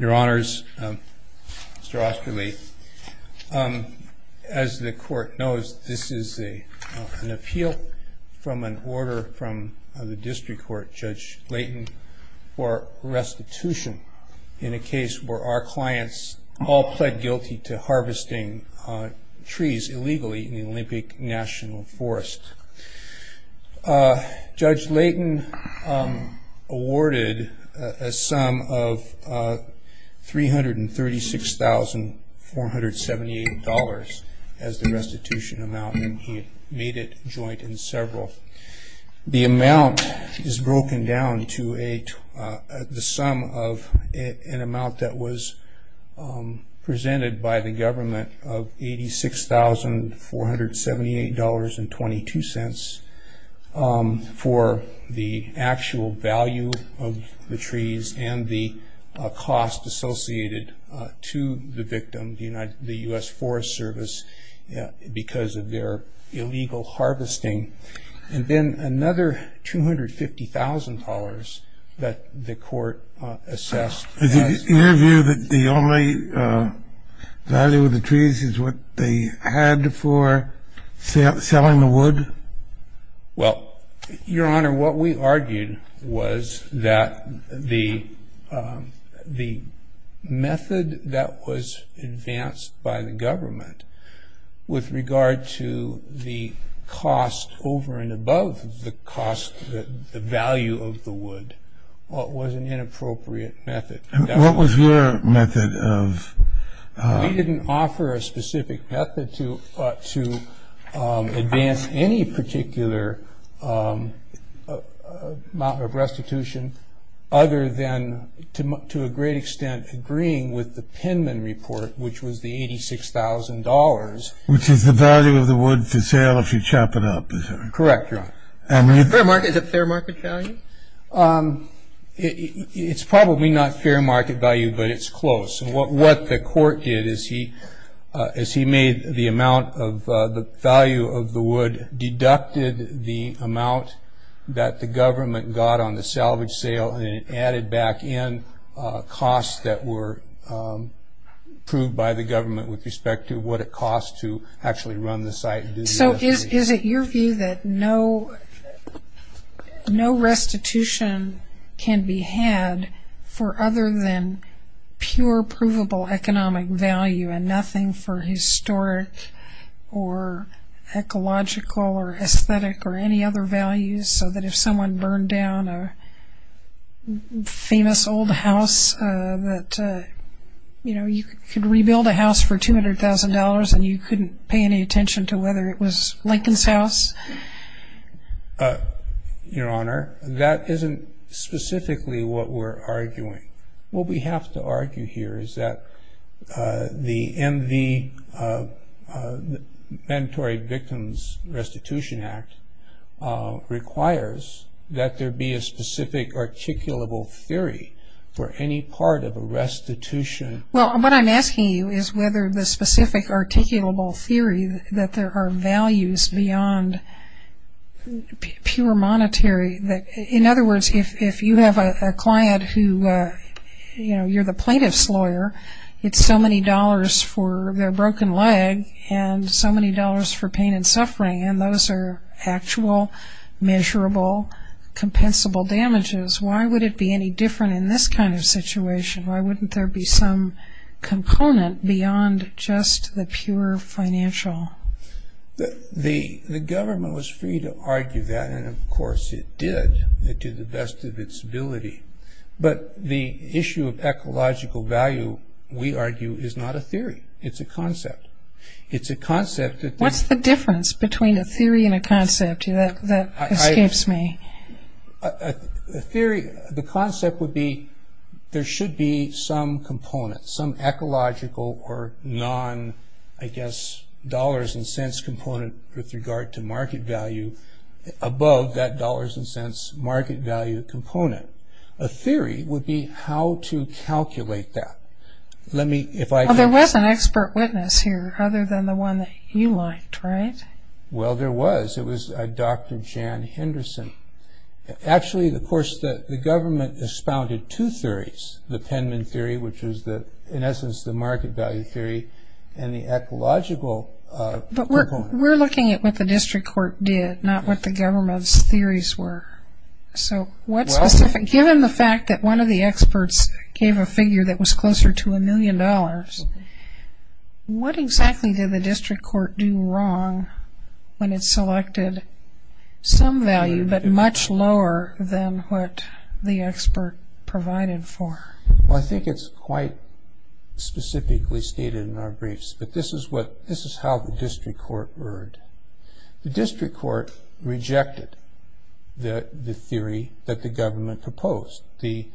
Your honors, Mr. Osterle, as the court knows this is a an appeal from an order from the district court Judge Layton for restitution in a case where our clients all pled guilty to harvesting trees illegally in the Olympic National Forest. Judge Layton awarded a sum of $336,478 as the restitution amount and he made it joint in several. The amount is broken down to the sum of an amount that was presented by the court, $1,000,022 for the actual value of the trees and the cost associated to the victim, the U.S. Forest Service because of their illegal harvesting, and then another $250,000 that the court assessed. Is it your view that the only value of the trees is what they had for selling the wood? Well, your honor, what we argued was that the method that was advanced by the government with regard to the cost over and above the cost, the value of the wood, was an inappropriate method. And what was your method of... We didn't offer a specific method to advance any particular amount of restitution other than, to a great extent, agreeing with the Penman report, which was the $86,000. Which is the value of the wood to sale if you chop it up, is that right? Correct, your honor. Is it fair market value? It's probably not fair market value, but it's close. What the court did is he made the amount of the value of the wood, deducted the amount that the government got on the salvage sale, and added back in costs that were approved by the government with respect to what it cost to actually run the site. So is it your view that no restitution can be had for other than pure provable economic value and nothing for historic or ecological or aesthetic or any other values, so that if someone burned down a famous old house, that you could rebuild a house for $200,000 and you could make it look like it was Lincoln's house? Your honor, that isn't specifically what we're arguing. What we have to argue here is that the MV, Mandatory Victims Restitution Act, requires that there be a specific articulable theory for any part of a restitution. Well, what I'm asking you is whether the specific articulable theory that there are values beyond pure monetary, in other words, if you have a client who, you know, you're the plaintiff's lawyer, it's so many dollars for their broken leg and so many dollars for pain and suffering, and those are actual, measurable, compensable damages. Why would it be any different in this kind of situation? Why wouldn't there be some component beyond just the pure financial? The government was free to argue that, and of course it did, to the best of its ability. But the issue of ecological value, we argue, is not a theory. It's a concept. It's a concept that... What's the difference between a theory and a concept? That escapes me. A theory, the concept would be there should be some component, some ecological or non, I guess, dollars and cents component with regard to market value above that dollars and cents market value component. A theory would be how to calculate that. Let me, if I... Well, there was an expert witness here other than the one that you liked, right? Well, there was. It was Dr. Jan Henderson. Actually, of course, the government expounded two theories, the Penman theory, which was, in essence, the market value theory and the ecological component. But we're looking at what the district court did, not what the government's theories were. So what's specific? Given the fact that one of the experts gave a figure that was closer to a million dollars, what exactly did the district court do wrong when it selected some value but much lower than what the expert provided for? Well, I think it's quite specifically stated in our briefs, but this is how the district court erred. The district court rejected the theory that the government proposed, the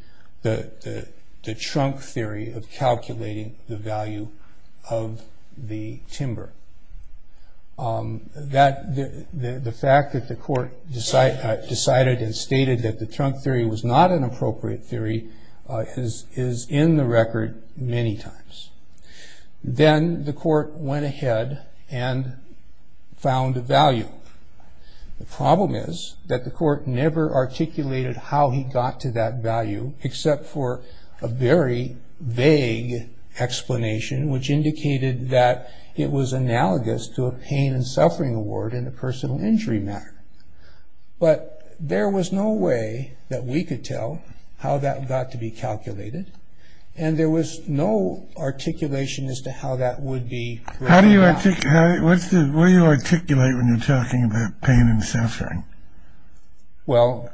trunk theory of calculating the value of the timber. The fact that the court decided and stated that the trunk theory was not an appropriate theory is in the record many times. Then the court went ahead and found a value. The problem is that the court never articulated how he got to that value except for a very vague explanation, which indicated that it was analogous to a pain and suffering award in a personal injury matter. But there was no way that we could tell how that got to be calculated, and there was no articulation as to how that would be. How do you articulate when you're talking about pain and suffering? Well,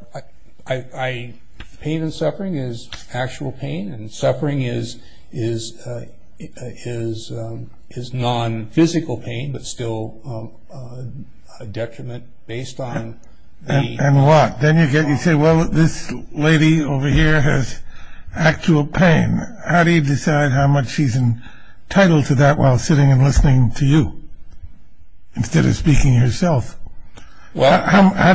pain and suffering is actual pain, and suffering is non-physical pain, but still a detriment based on the... And what? Then you say, well, this lady over here has actual pain. How do you decide how much she's entitled to that while sitting and listening to you instead of speaking yourself? How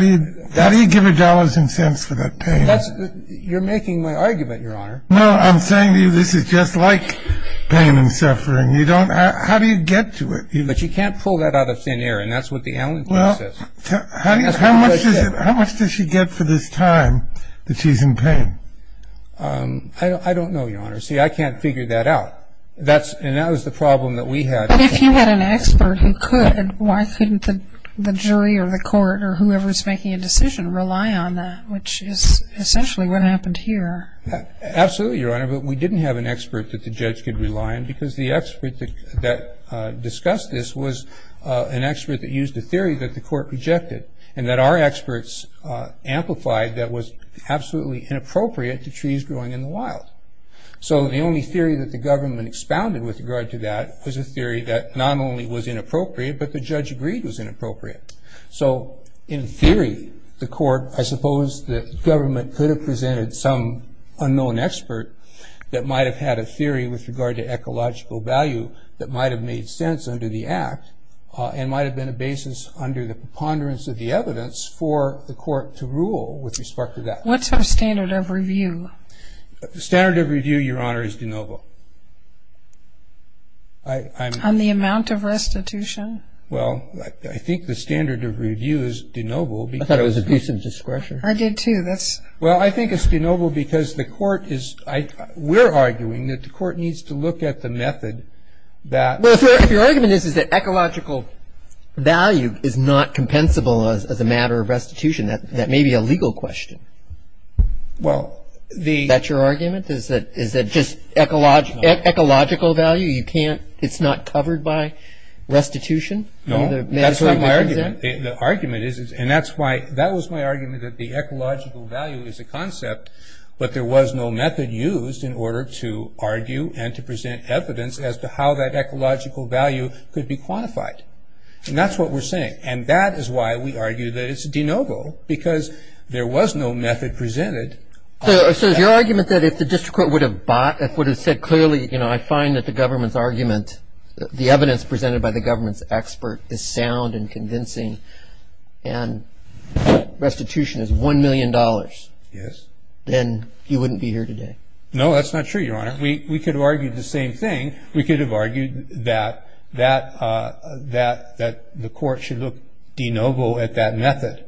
do you give her dollars and cents for that pain? You're making my argument, Your Honor. No, I'm saying to you this is just like pain and suffering. How do you get to it? But you can't pull that out of thin air, and that's what the Allen case says. How much does she get for this time that she's in pain? I don't know, Your Honor. See, I can't figure that out, and that was the problem that we had. But if you had an expert who could, why couldn't the jury or the court or whoever is making a decision rely on that, which is essentially what happened here? Absolutely, Your Honor, but we didn't have an expert that the judge could rely on because the expert that discussed this was an expert that used a theory that the court rejected and that our experts amplified that was absolutely inappropriate to trees growing in the wild. So the only theory that the government expounded with regard to that was a theory that not only was inappropriate, but the judge agreed was inappropriate. So in theory, the court, I suppose the government could have presented some unknown expert that might have had a theory with regard to ecological value that might have made sense under the Act and might have been a basis under the preponderance of the evidence for the court to rule with respect to that. What's our standard of review? The standard of review, Your Honor, is de nobis. On the amount of restitution? Well, I think the standard of review is de nobis because I thought it was abusive discretion. I did, too. Well, I think it's de nobis because the court is – we're arguing that the court needs to look at the method that Well, if your argument is that ecological value is not compensable as a matter of restitution, that may be a legal question. Well, the – Is that your argument? Is it just ecological value? You can't – it's not covered by restitution? No. That's not my argument. The argument is – and that's why – that was my argument that the ecological value is a concept, but there was no method used in order to argue and to present evidence as to how that ecological value could be quantified. And that's what we're saying. And that is why we argue that it's de novo because there was no method presented. So is your argument that if the district court would have bought – if it would have said clearly, you know, I find that the government's argument, the evidence presented by the government's expert is sound and convincing and restitution is $1 million. Yes. Then you wouldn't be here today. No, that's not true, Your Honor. We could have argued the same thing. We could have argued that the court should look de novo at that method,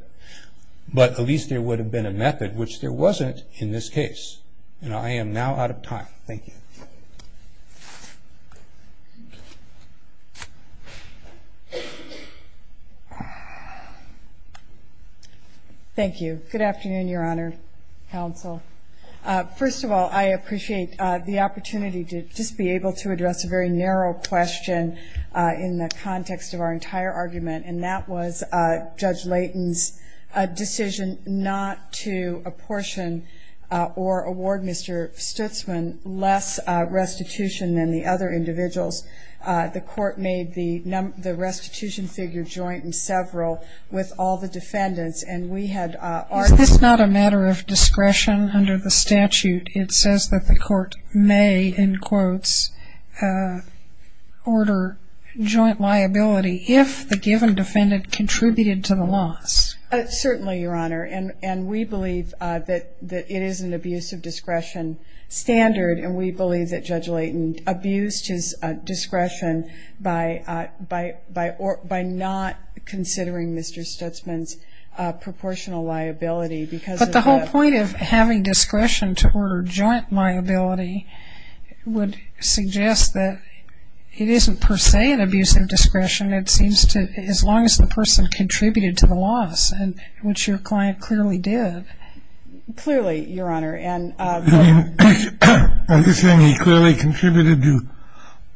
but at least there would have been a method, which there wasn't in this case. And I am now out of time. Thank you. Thank you. Good afternoon, Your Honor, counsel. First of all, I appreciate the opportunity to just be able to address a very narrow question in the context of our entire argument, and that was Judge Layton's decision not to apportion or award Mr. Stutzman less restitution than the other individuals. The court made the restitution figure joint and several with all the defendants. Is this not a matter of discretion under the statute? It says that the court may, in quotes, order joint liability if the given defendant contributed to the loss. Certainly, Your Honor, and we believe that it is an abuse of discretion standard, and we believe that Judge Layton abused his discretion by not considering Mr. Stutzman's discretion as a proportional liability because of that. But the whole point of having discretion to order joint liability would suggest that it isn't per se an abuse of discretion, it seems, as long as the person contributed to the loss, which your client clearly did. Clearly, Your Honor. Are you saying he clearly contributed to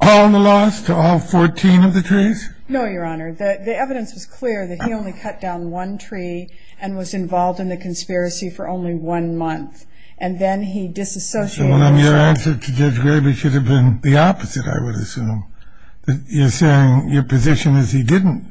all the loss, to all 14 of the trees? No, Your Honor. The evidence was clear that he only cut down one tree and was involved in the conspiracy for only one month. And then he disassociated himself. Well, then your answer to Judge Gravey should have been the opposite, I would assume. You're saying your position is he didn't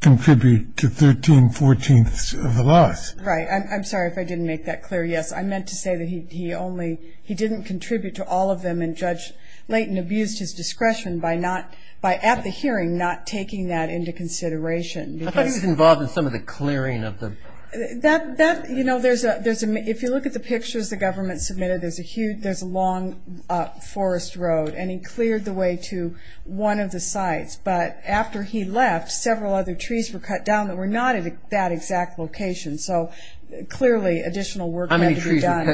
contribute to 13 fourteenths of the loss. Right. I'm sorry if I didn't make that clear. Yes, I meant to say that he only he didn't contribute to all of them, and Judge Layton abused his discretion by not, at the hearing, not taking that into consideration. I thought he was involved in some of the clearing of the... That, you know, if you look at the pictures the government submitted, there's a long forest road, and he cleared the way to one of the sites. But after he left, several other trees were cut down that were not at that exact location. So clearly additional work had to be done.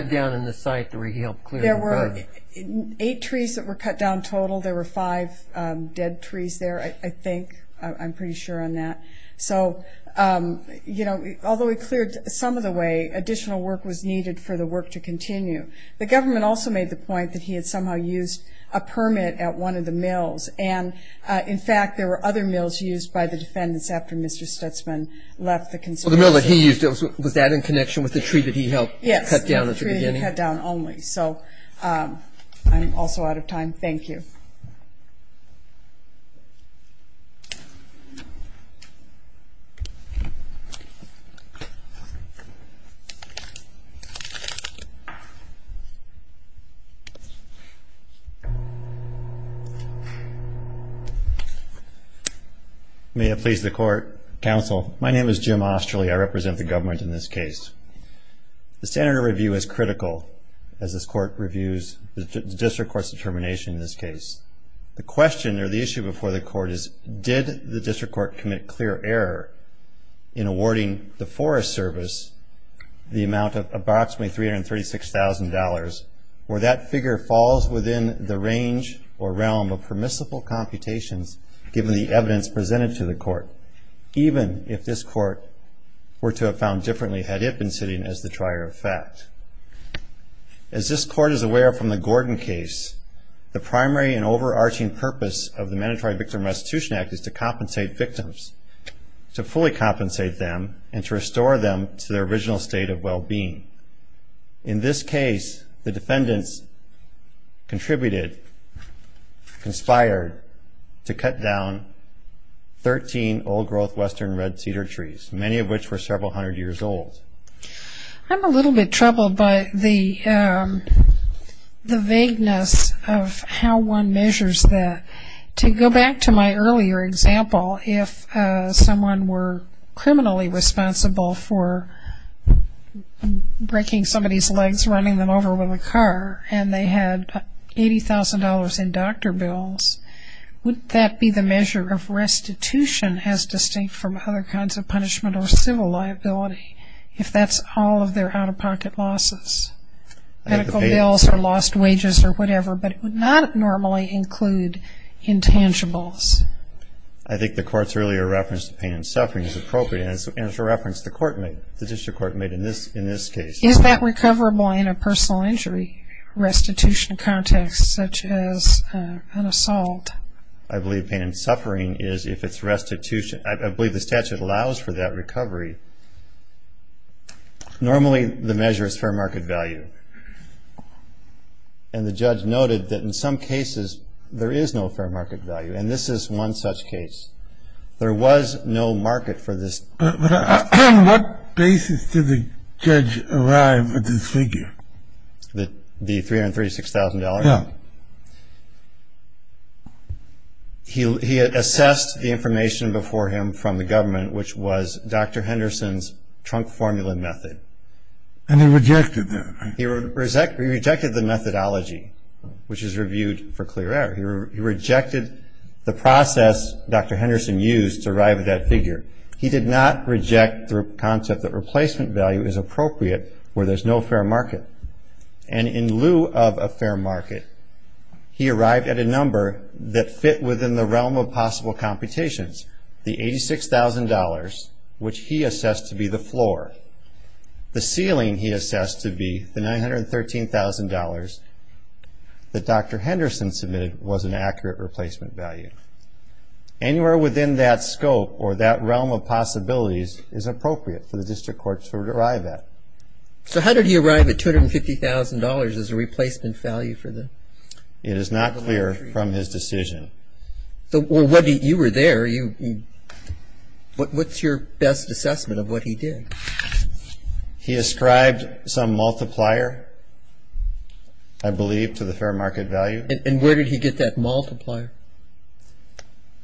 Eight trees that were cut down total. There were five dead trees there, I think. I'm pretty sure on that. So, you know, although he cleared some of the way, additional work was needed for the work to continue. The government also made the point that he had somehow used a permit at one of the mills. And, in fact, there were other mills used by the defendants after Mr. Stutzman left the conspiracy. Well, the mill that he used, was that in connection with the tree that he helped cut down at the beginning? Yes, the tree that he cut down only. So I'm also out of time. Thank you. May it please the Court, Counsel. My name is Jim Osterly. I represent the government in this case. The standard of review is critical as this Court reviews the District Court's determination in this case. The question or the issue before the Court is, did the District Court commit clear error in awarding the Forest Service the amount of approximately $336,000, or that figure falls within the range or realm of permissible computations, given the evidence presented to the Court, even if this Court were to have found differently had it been sitting as the trier of fact. As this Court is aware from the Gordon case, the primary and overarching purpose of the Mandatory Victim Restitution Act is to compensate victims, to fully compensate them, and to restore them to their original state of well-being. In this case, the defendants contributed, conspired, to cut down 13 old-growth western red cedar trees, many of which were several hundred years old. I'm a little bit troubled by the vagueness of how one measures that. To go back to my earlier example, if someone were criminally responsible for breaking somebody's legs, running them over with a car, and they had $80,000 in doctor bills, wouldn't that be the measure of restitution as distinct from other kinds of punishment or civil liability, if that's all of their out-of-pocket losses? Medical bills or lost wages or whatever, but it would not normally include intangibles. I think the Court's earlier reference to pain and suffering is appropriate, and it's a reference the District Court made in this case. Is that recoverable in a personal injury restitution context, such as an assault? I believe pain and suffering is if it's restitution. I believe the statute allows for that recovery. Normally, the measure is fair market value, and the judge noted that in some cases there is no fair market value, and this is one such case. There was no market for this. But on what basis did the judge arrive at this figure? The $336,000? Yeah. He assessed the information before him from the government, which was Dr. Henderson's trunk formula method. And he rejected that, right? He rejected the methodology, which is reviewed for clear error. He rejected the process Dr. Henderson used to arrive at that figure. He did not reject the concept that replacement value is appropriate where there's no fair market. And in lieu of a fair market, he arrived at a number that fit within the realm of possible computations, the $86,000, which he assessed to be the floor, the ceiling he assessed to be the $913,000 that Dr. Henderson submitted was an accurate replacement value. Anywhere within that scope or that realm of possibilities is appropriate for the district court to arrive at. So how did he arrive at $250,000 as a replacement value for the? It is not clear from his decision. Well, you were there. What's your best assessment of what he did? He ascribed some multiplier, I believe, to the fair market value. And where did he get that multiplier?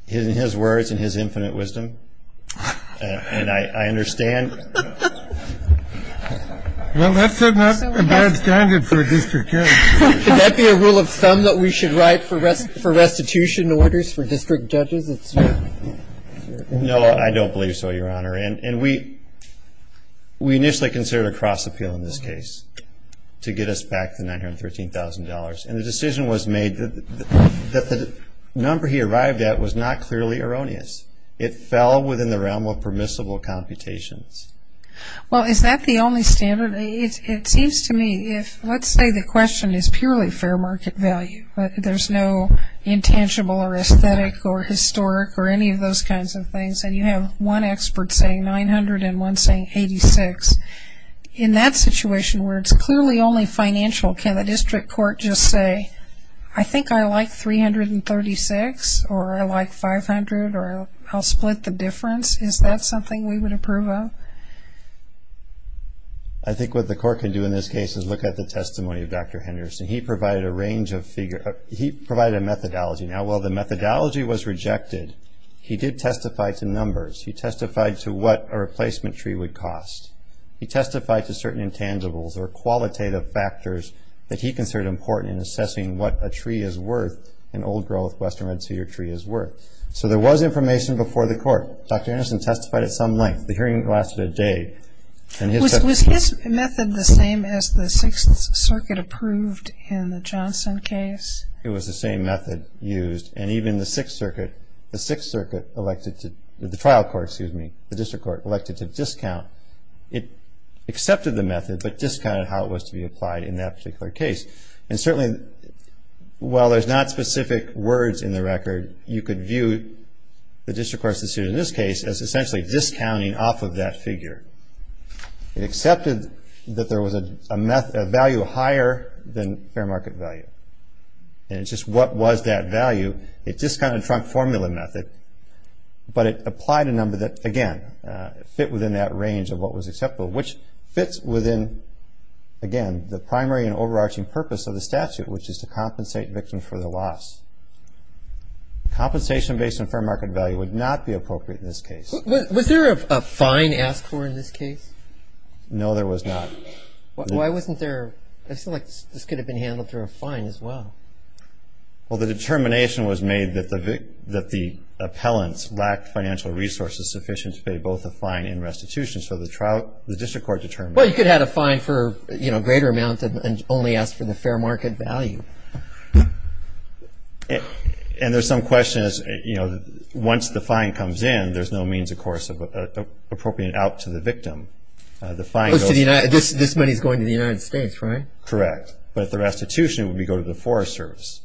In his words and his infinite wisdom. And I understand. Well, that's not a bad standard for a district judge. Could that be a rule of thumb that we should write for restitution orders for district judges? No, I don't believe so, Your Honor. And we initially considered a cross appeal in this case to get us back the $913,000. And the decision was made that the number he arrived at was not clearly erroneous. It fell within the realm of permissible computations. Well, is that the only standard? It seems to me if let's say the question is purely fair market value, but there's no intangible or aesthetic or historic or any of those kinds of things, and you have one expert saying 900 and one saying 86, in that situation where it's clearly only financial, can the district court just say, I think I like 336 or I like 500 or I'll split the difference? Is that something we would approve of? I think what the court can do in this case is look at the testimony of Dr. Henderson. He provided a methodology. Now, while the methodology was rejected, he did testify to numbers. He testified to what a replacement tree would cost. He testified to certain intangibles or qualitative factors that he considered important in assessing what a tree is worth, an old-growth western red cedar tree is worth. So there was information before the court. Dr. Henderson testified at some length. The hearing lasted a day. Was his method the same as the Sixth Circuit approved in the Johnson case? It was the same method used. And even the Sixth Circuit elected to discount. It accepted the method but discounted how it was to be applied in that particular case. And certainly, while there's not specific words in the record, you could view the district court's decision in this case as essentially discounting off of that figure. It accepted that there was a value higher than fair market value. And it's just what was that value. It discounted Trump formula method. But it applied a number that, again, fit within that range of what was acceptable, which fits within, again, the primary and overarching purpose of the statute, which is to compensate victims for their loss. Compensation based on fair market value would not be appropriate in this case. Was there a fine asked for in this case? No, there was not. Why wasn't there? I feel like this could have been handled through a fine as well. Well, the determination was made that the appellants lacked financial resources sufficient to pay both a fine and restitution. So the district court determined that. Well, you could have had a fine for a greater amount and only asked for the fair market value. And there's some question as, you know, once the fine comes in, there's no means, of course, of appropriating it out to the victim. This money is going to the United States, right? Correct. But the restitution would go to the Forest Service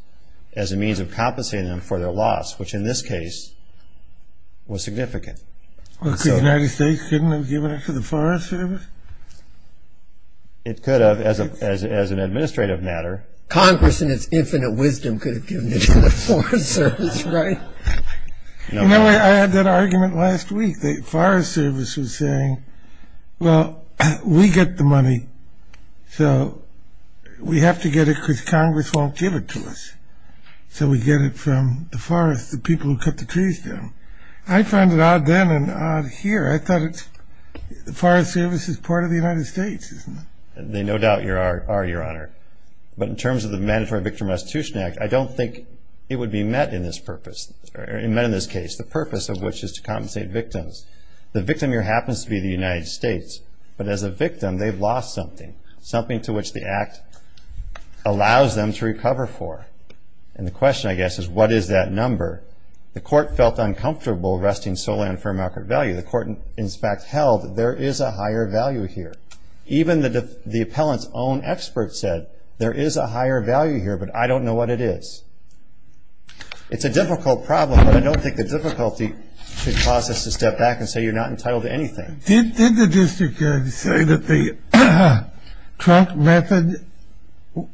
as a means of compensating them for their loss, which in this case was significant. Well, couldn't the United States have given it to the Forest Service? It could have, as an administrative matter. Congress, in its infinite wisdom, could have given it to the Forest Service, right? You know, I had that argument last week. The Forest Service was saying, well, we get the money, so we have to get it because Congress won't give it to us. So we get it from the forest, the people who cut the trees down. I found it odd then and odd here. I thought the Forest Service is part of the United States, isn't it? They no doubt are, Your Honor. But in terms of the Mandatory Victim Restitution Act, I don't think it would be met in this purpose, the purpose of which is to compensate victims. The victim here happens to be the United States, but as a victim they've lost something, something to which the act allows them to recover for. And the question, I guess, is what is that number? The court felt uncomfortable arresting Solan for a market value. The court, in fact, held there is a higher value here. Even the appellant's own expert said there is a higher value here, but I don't know what it is. It's a difficult problem, but I don't think the difficulty should cause us to step back and say you're not entitled to anything. Did the district say that the Trump method,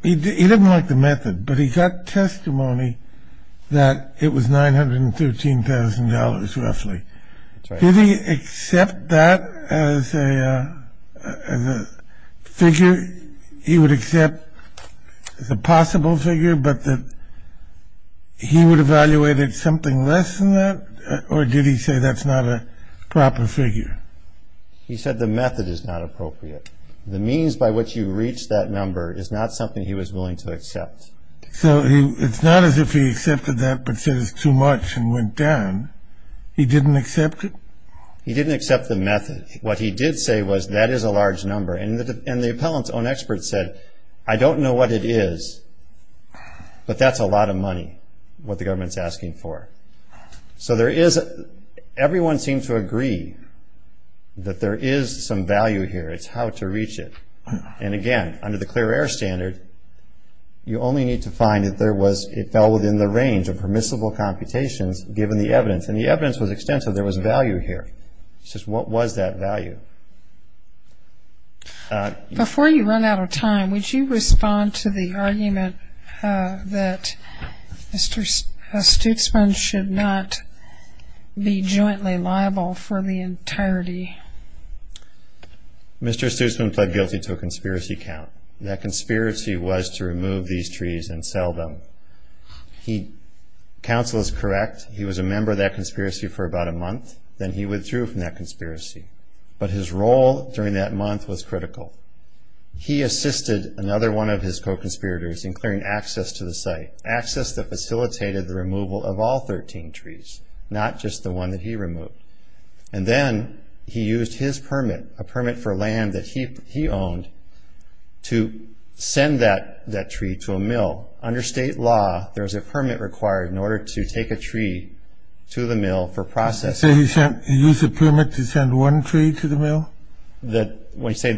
he didn't like the method, but he got testimony that it was $913,000 roughly. That's right. Did he accept that as a figure? He would accept as a possible figure, but that he would evaluate it something less than that, or did he say that's not a proper figure? He said the method is not appropriate. The means by which you reach that number is not something he was willing to accept. So it's not as if he accepted that but said it's too much and went down. He didn't accept it? He didn't accept the method. What he did say was that is a large number, and the appellant's own expert said I don't know what it is, but that's a lot of money, what the government's asking for. So everyone seemed to agree that there is some value here. It's how to reach it. And again, under the clear air standard, you only need to find that it fell within the range of permissible computations given the evidence, and the evidence was extensive. There was value here. It's just what was that value? Before you run out of time, would you respond to the argument that Mr. Stutzman should not be jointly liable for the entirety? Mr. Stutzman pled guilty to a conspiracy count. That conspiracy was to remove these trees and sell them. Counsel is correct. He was a member of that conspiracy for about a month. Then he withdrew from that conspiracy. But his role during that month was critical. He assisted another one of his co-conspirators in clearing access to the site, access that facilitated the removal of all 13 trees, not just the one that he removed. And then he used his permit, a permit for land that he owned, to send that tree to a mill. Under state law, there's a permit required in order to take a tree to the mill for processing. So he used a permit to send one tree to the mill? When you say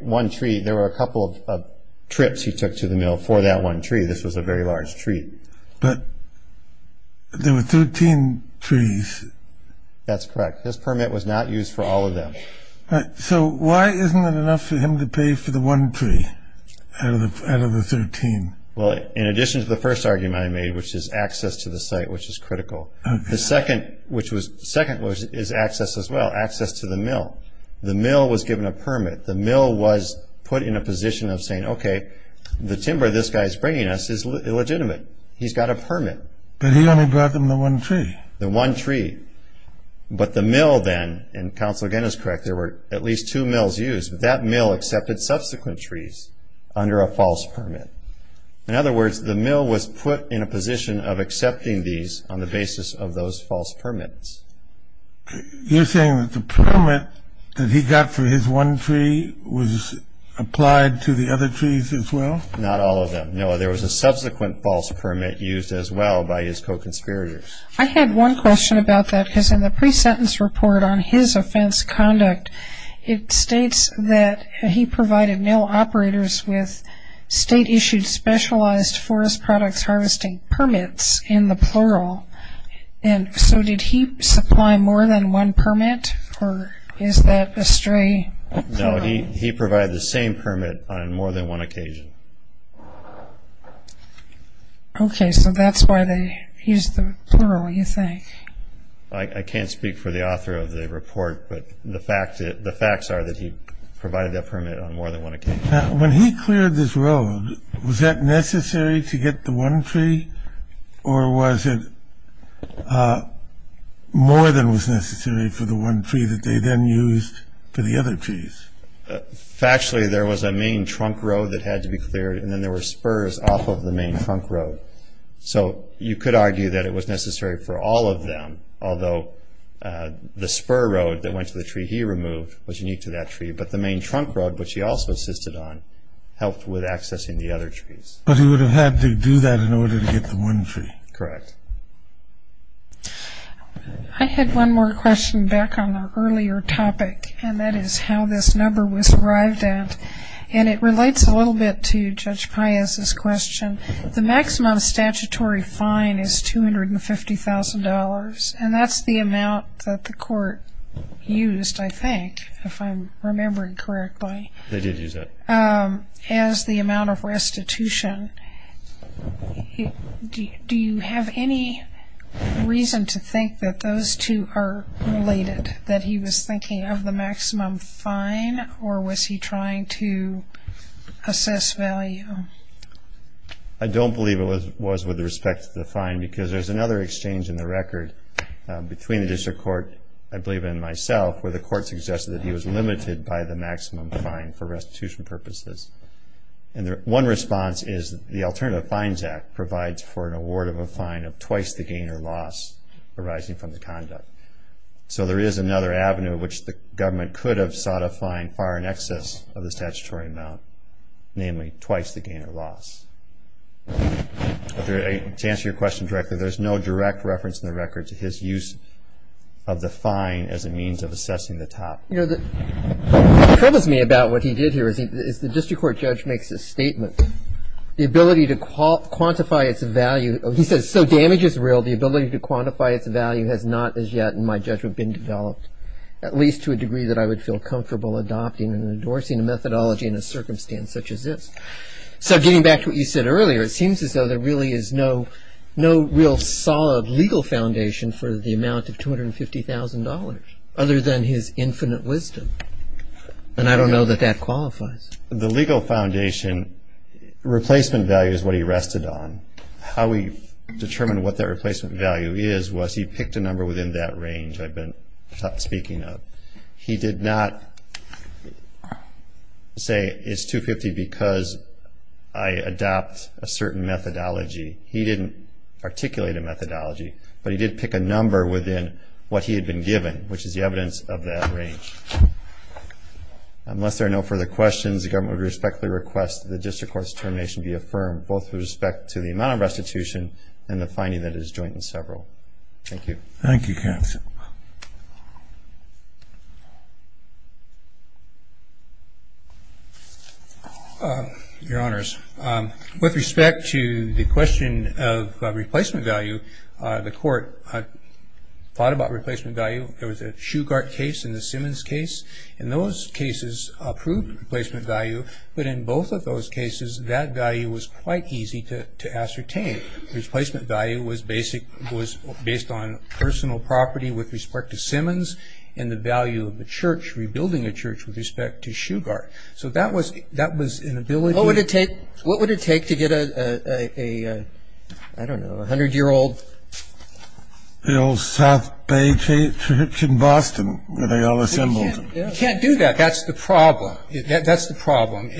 one tree, there were a couple of trips he took to the mill for that one tree. This was a very large tree. But there were 13 trees. That's correct. His permit was not used for all of them. So why isn't it enough for him to pay for the one tree out of the 13? Well, in addition to the first argument I made, which is access to the site, which is critical, the second is access as well, access to the mill. The mill was given a permit. The mill was put in a position of saying, okay, the timber this guy is bringing us is illegitimate. He's got a permit. But he only brought them the one tree. The one tree. But the mill then, and counsel again is correct, there were at least two mills used. That mill accepted subsequent trees under a false permit. In other words, the mill was put in a position of accepting these on the basis of those false permits. You're saying that the permit that he got for his one tree was applied to the other trees as well? Not all of them. No, there was a subsequent false permit used as well by his co-conspirators. I had one question about that because in the pre-sentence report on his offense conduct, it states that he provided mill operators with state-issued, specialized forest products harvesting permits in the plural. And so did he supply more than one permit, or is that a stray? No, he provided the same permit on more than one occasion. Okay, so that's why they used the plural, you think. I can't speak for the author of the report, but the facts are that he provided that permit on more than one occasion. Now, when he cleared this road, was that necessary to get the one tree, or was it more than was necessary for the one tree that they then used for the other trees? Factually, there was a main trunk road that had to be cleared, and then there were spurs off of the main trunk road. So you could argue that it was necessary for all of them, although the spur road that went to the tree he removed was unique to that tree, but the main trunk road, which he also assisted on, helped with accessing the other trees. But he would have had to do that in order to get the one tree. Correct. I had one more question back on an earlier topic, and that is how this number was derived at, and it relates a little bit to Judge Pius' question. The maximum statutory fine is $250,000, and that's the amount that the court used, I think, if I'm remembering correctly. They did use that. As the amount of restitution. Do you have any reason to think that those two are related, that he was thinking of the maximum fine, or was he trying to assess value? I don't believe it was with respect to the fine because there's another exchange in the record between the district court, I believe, and myself, where the court suggested that he was limited by the maximum fine for restitution purposes. One response is the Alternative Fines Act provides for an award of a fine of twice the gain or loss arising from the conduct. So there is another avenue which the government could have sought a fine far in excess of the statutory amount, namely twice the gain or loss. To answer your question directly, there's no direct reference in the record to his use of the fine as a means of assessing the top. What troubles me about what he did here is the district court judge makes a statement. The ability to quantify its value, he says, so damage is real, the ability to quantify its value has not as yet, in my judgment, been developed, at least to a degree that I would feel comfortable adopting and endorsing a methodology in a circumstance such as this. So getting back to what you said earlier, it seems as though there really is no real solid legal foundation for the amount of $250,000 other than his infinite wisdom, and I don't know that that qualifies. The legal foundation replacement value is what he rested on. How he determined what that replacement value is was he picked a number within that range I've been speaking of. He did not say it's $250,000 because I adopt a certain methodology. He didn't articulate a methodology, but he did pick a number within what he had been given, which is the evidence of that range. Unless there are no further questions, the government would respectfully request that the district court's determination be affirmed, both with respect to the amount of restitution and the finding that it is joint in several. Thank you. Thank you, counsel. Your Honors, with respect to the question of replacement value, the court thought about replacement value. There was a Shugart case and the Simmons case, and those cases approved replacement value. But in both of those cases, that value was quite easy to ascertain. Replacement value was based on personal property with respect to Simmons and the value of the church, rebuilding a church, with respect to Shugart. So that was an ability. What would it take to get a, I don't know, a hundred-year-old? The old South Bay church in Boston, where they all assembled. You can't do that. That's the problem. That's the problem.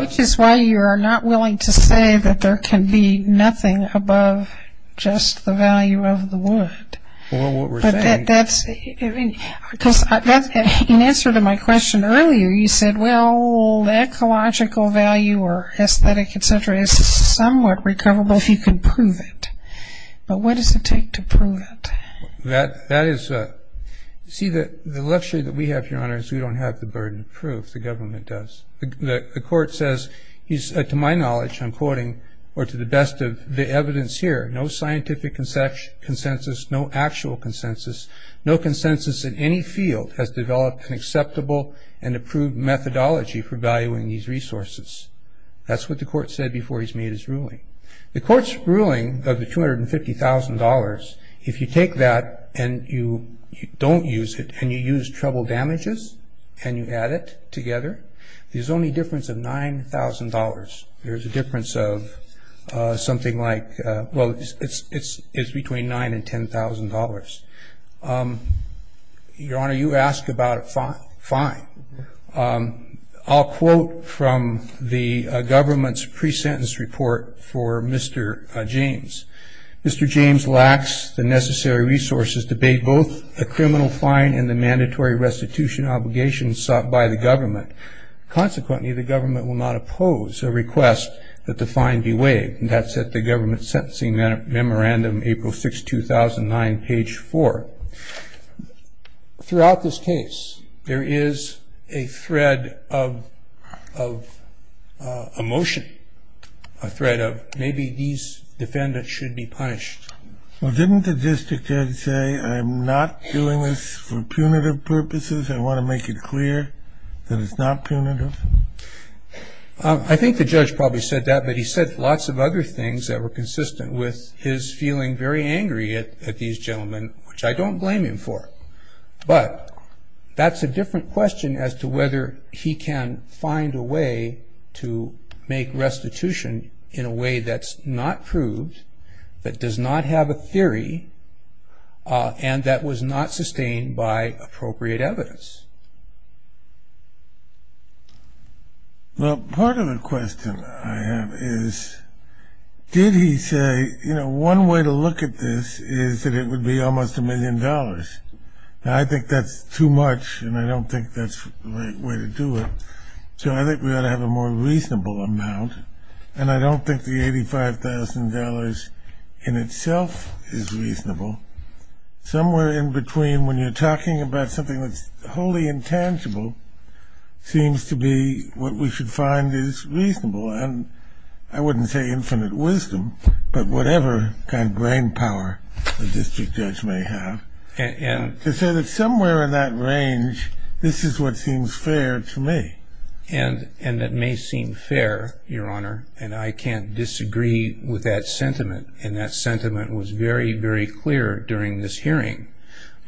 Which is why you are not willing to say that there can be nothing above just the value of the wood. Well, what we're saying. Because in answer to my question earlier, you said, well, ecological value or aesthetic, et cetera, is somewhat recoverable if you can prove it. But what does it take to prove it? That is, see, the luxury that we have, Your Honors, we don't have the burden of proof, the government does. The court says, to my knowledge, I'm quoting, or to the best of the evidence here, no scientific consensus, no actual consensus, no consensus in any field has developed an acceptable and approved methodology for valuing these resources. That's what the court said before he's made his ruling. The court's ruling of the $250,000, if you take that and you don't use it and you use treble damages and you add it together, there's only a difference of $9,000. There's a difference of something like, well, it's between $9,000 and $10,000. Your Honor, you ask about a fine. I'll quote from the government's pre-sentence report for Mr. James. Mr. James lacks the necessary resources to pay both the criminal fine and the mandatory restitution obligations sought by the government. Consequently, the government will not oppose a request that the fine be waived, and that's at the government's sentencing memorandum, April 6, 2009, page 4. Throughout this case, there is a thread of emotion, a thread of maybe these defendants should be punished. Well, didn't the district judge say, I'm not doing this for punitive purposes, I want to make it clear that it's not punitive? I think the judge probably said that, but he said lots of other things that were consistent with his feeling very angry at these gentlemen, which I don't blame him for. But that's a different question as to whether he can find a way to make restitution in a way that's not proved, that does not have a theory, and that was not sustained by appropriate evidence. Well, part of the question I have is, did he say, you know, one way to look at this is that it would be almost a million dollars. I think that's too much, and I don't think that's the right way to do it. So I think we ought to have a more reasonable amount, and I don't think the $85,000 in itself is reasonable. Somewhere in between when you're talking about something that's wholly intangible seems to be what we should find is reasonable, and I wouldn't say infinite wisdom, but whatever kind of brain power the district judge may have. To say that somewhere in that range, this is what seems fair to me. And that may seem fair, Your Honor, and I can't disagree with that sentiment, and that sentiment was very, very clear during this hearing.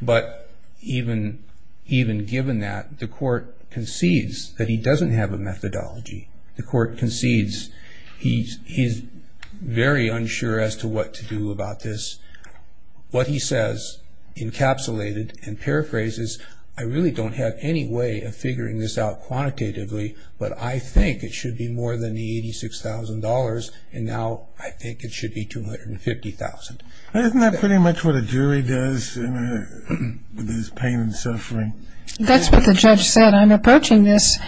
But even given that, the court concedes that he doesn't have a methodology. The court concedes he's very unsure as to what to do about this. What he says encapsulated and paraphrases, I really don't have any way of figuring this out quantitatively, but I think it should be more than the $86,000, and now I think it should be $250,000. Isn't that pretty much what a jury does with his pain and suffering? That's what the judge said. I'm approaching this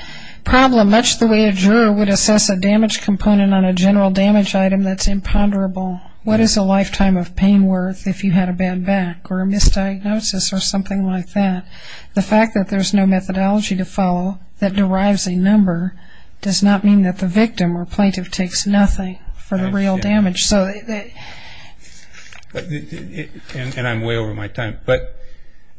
problem much the way a juror would assess a damage component on a general damage item that's imponderable. What is a lifetime of pain worth if you had a bad back or a misdiagnosis or something like that? The fact that there's no methodology to follow that derives a number does not mean that the victim or plaintiff takes nothing for the real damage. And I'm way over my time, but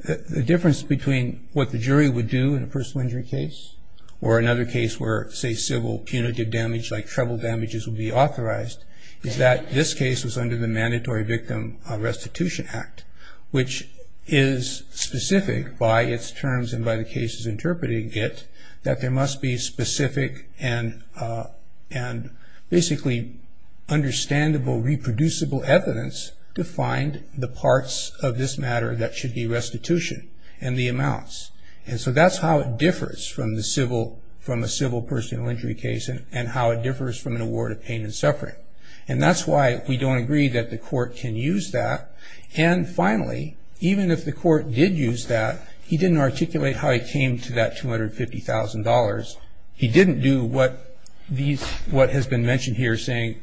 the difference between what the jury would do in a personal injury case or another case where, say, civil punitive damage like treble damages would be authorized is that this case was under the Mandatory Victim Restitution Act, which is specific by its terms and by the cases interpreting it that there must be specific and basically understandable, reproducible evidence to find the parts of this matter that should be restitution and the amounts. And so that's how it differs from a civil personal injury case and how it differs from an award of pain and suffering. And that's why we don't agree that the court can use that. And finally, even if the court did use that, he didn't articulate how he came to that $250,000. He didn't do what has been mentioned here saying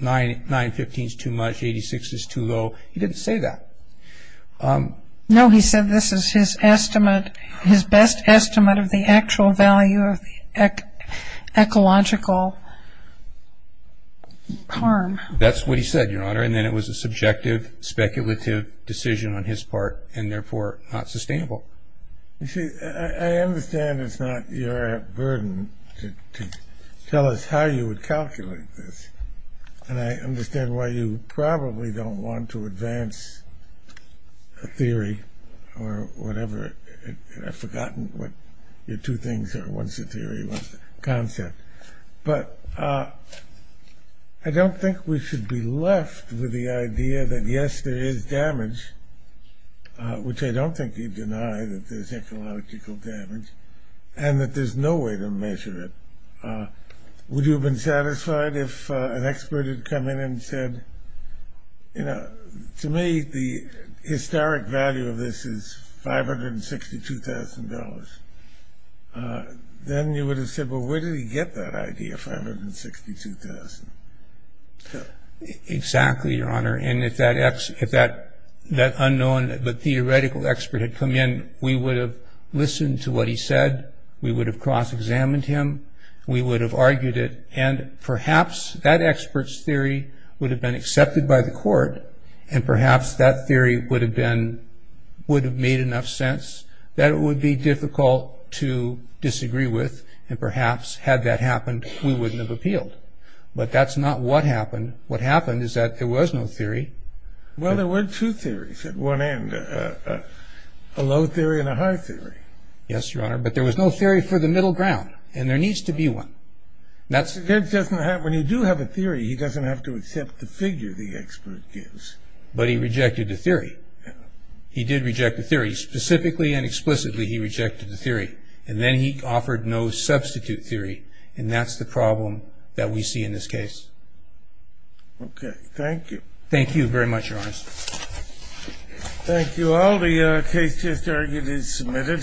915 is too much, 86 is too low. He didn't say that. No, he said this is his estimate, his best estimate of the actual value of ecological harm. That's what he said, Your Honor. And then it was a subjective, speculative decision on his part and therefore not sustainable. You see, I understand it's not your burden to tell us how you would calculate this. And I understand why you probably don't want to advance a theory or whatever. I've forgotten what your two things are. One's a theory, one's a concept. But I don't think we should be left with the idea that, yes, there is damage, which I don't think you deny that there's ecological damage, and that there's no way to measure it. Would you have been satisfied if an expert had come in and said, you know, to me the historic value of this is $562,000? Then you would have said, well, where did he get that idea, $562,000? Exactly, Your Honor. And if that unknown but theoretical expert had come in, we would have listened to what he said. We would have cross-examined him. We would have argued it. And perhaps that expert's theory would have been accepted by the court, and perhaps that theory would have made enough sense that it would be difficult to disagree with. And perhaps had that happened, we wouldn't have appealed. But that's not what happened. What happened is that there was no theory. Well, there were two theories at one end, a low theory and a high theory. Yes, Your Honor. But there was no theory for the middle ground, and there needs to be one. When you do have a theory, he doesn't have to accept the figure the expert gives. But he rejected the theory. He did reject the theory. Specifically and explicitly, he rejected the theory. And then he offered no substitute theory, and that's the problem that we see in this case. Okay, thank you. Thank you very much, Your Honor. Thank you all. The case is submitted.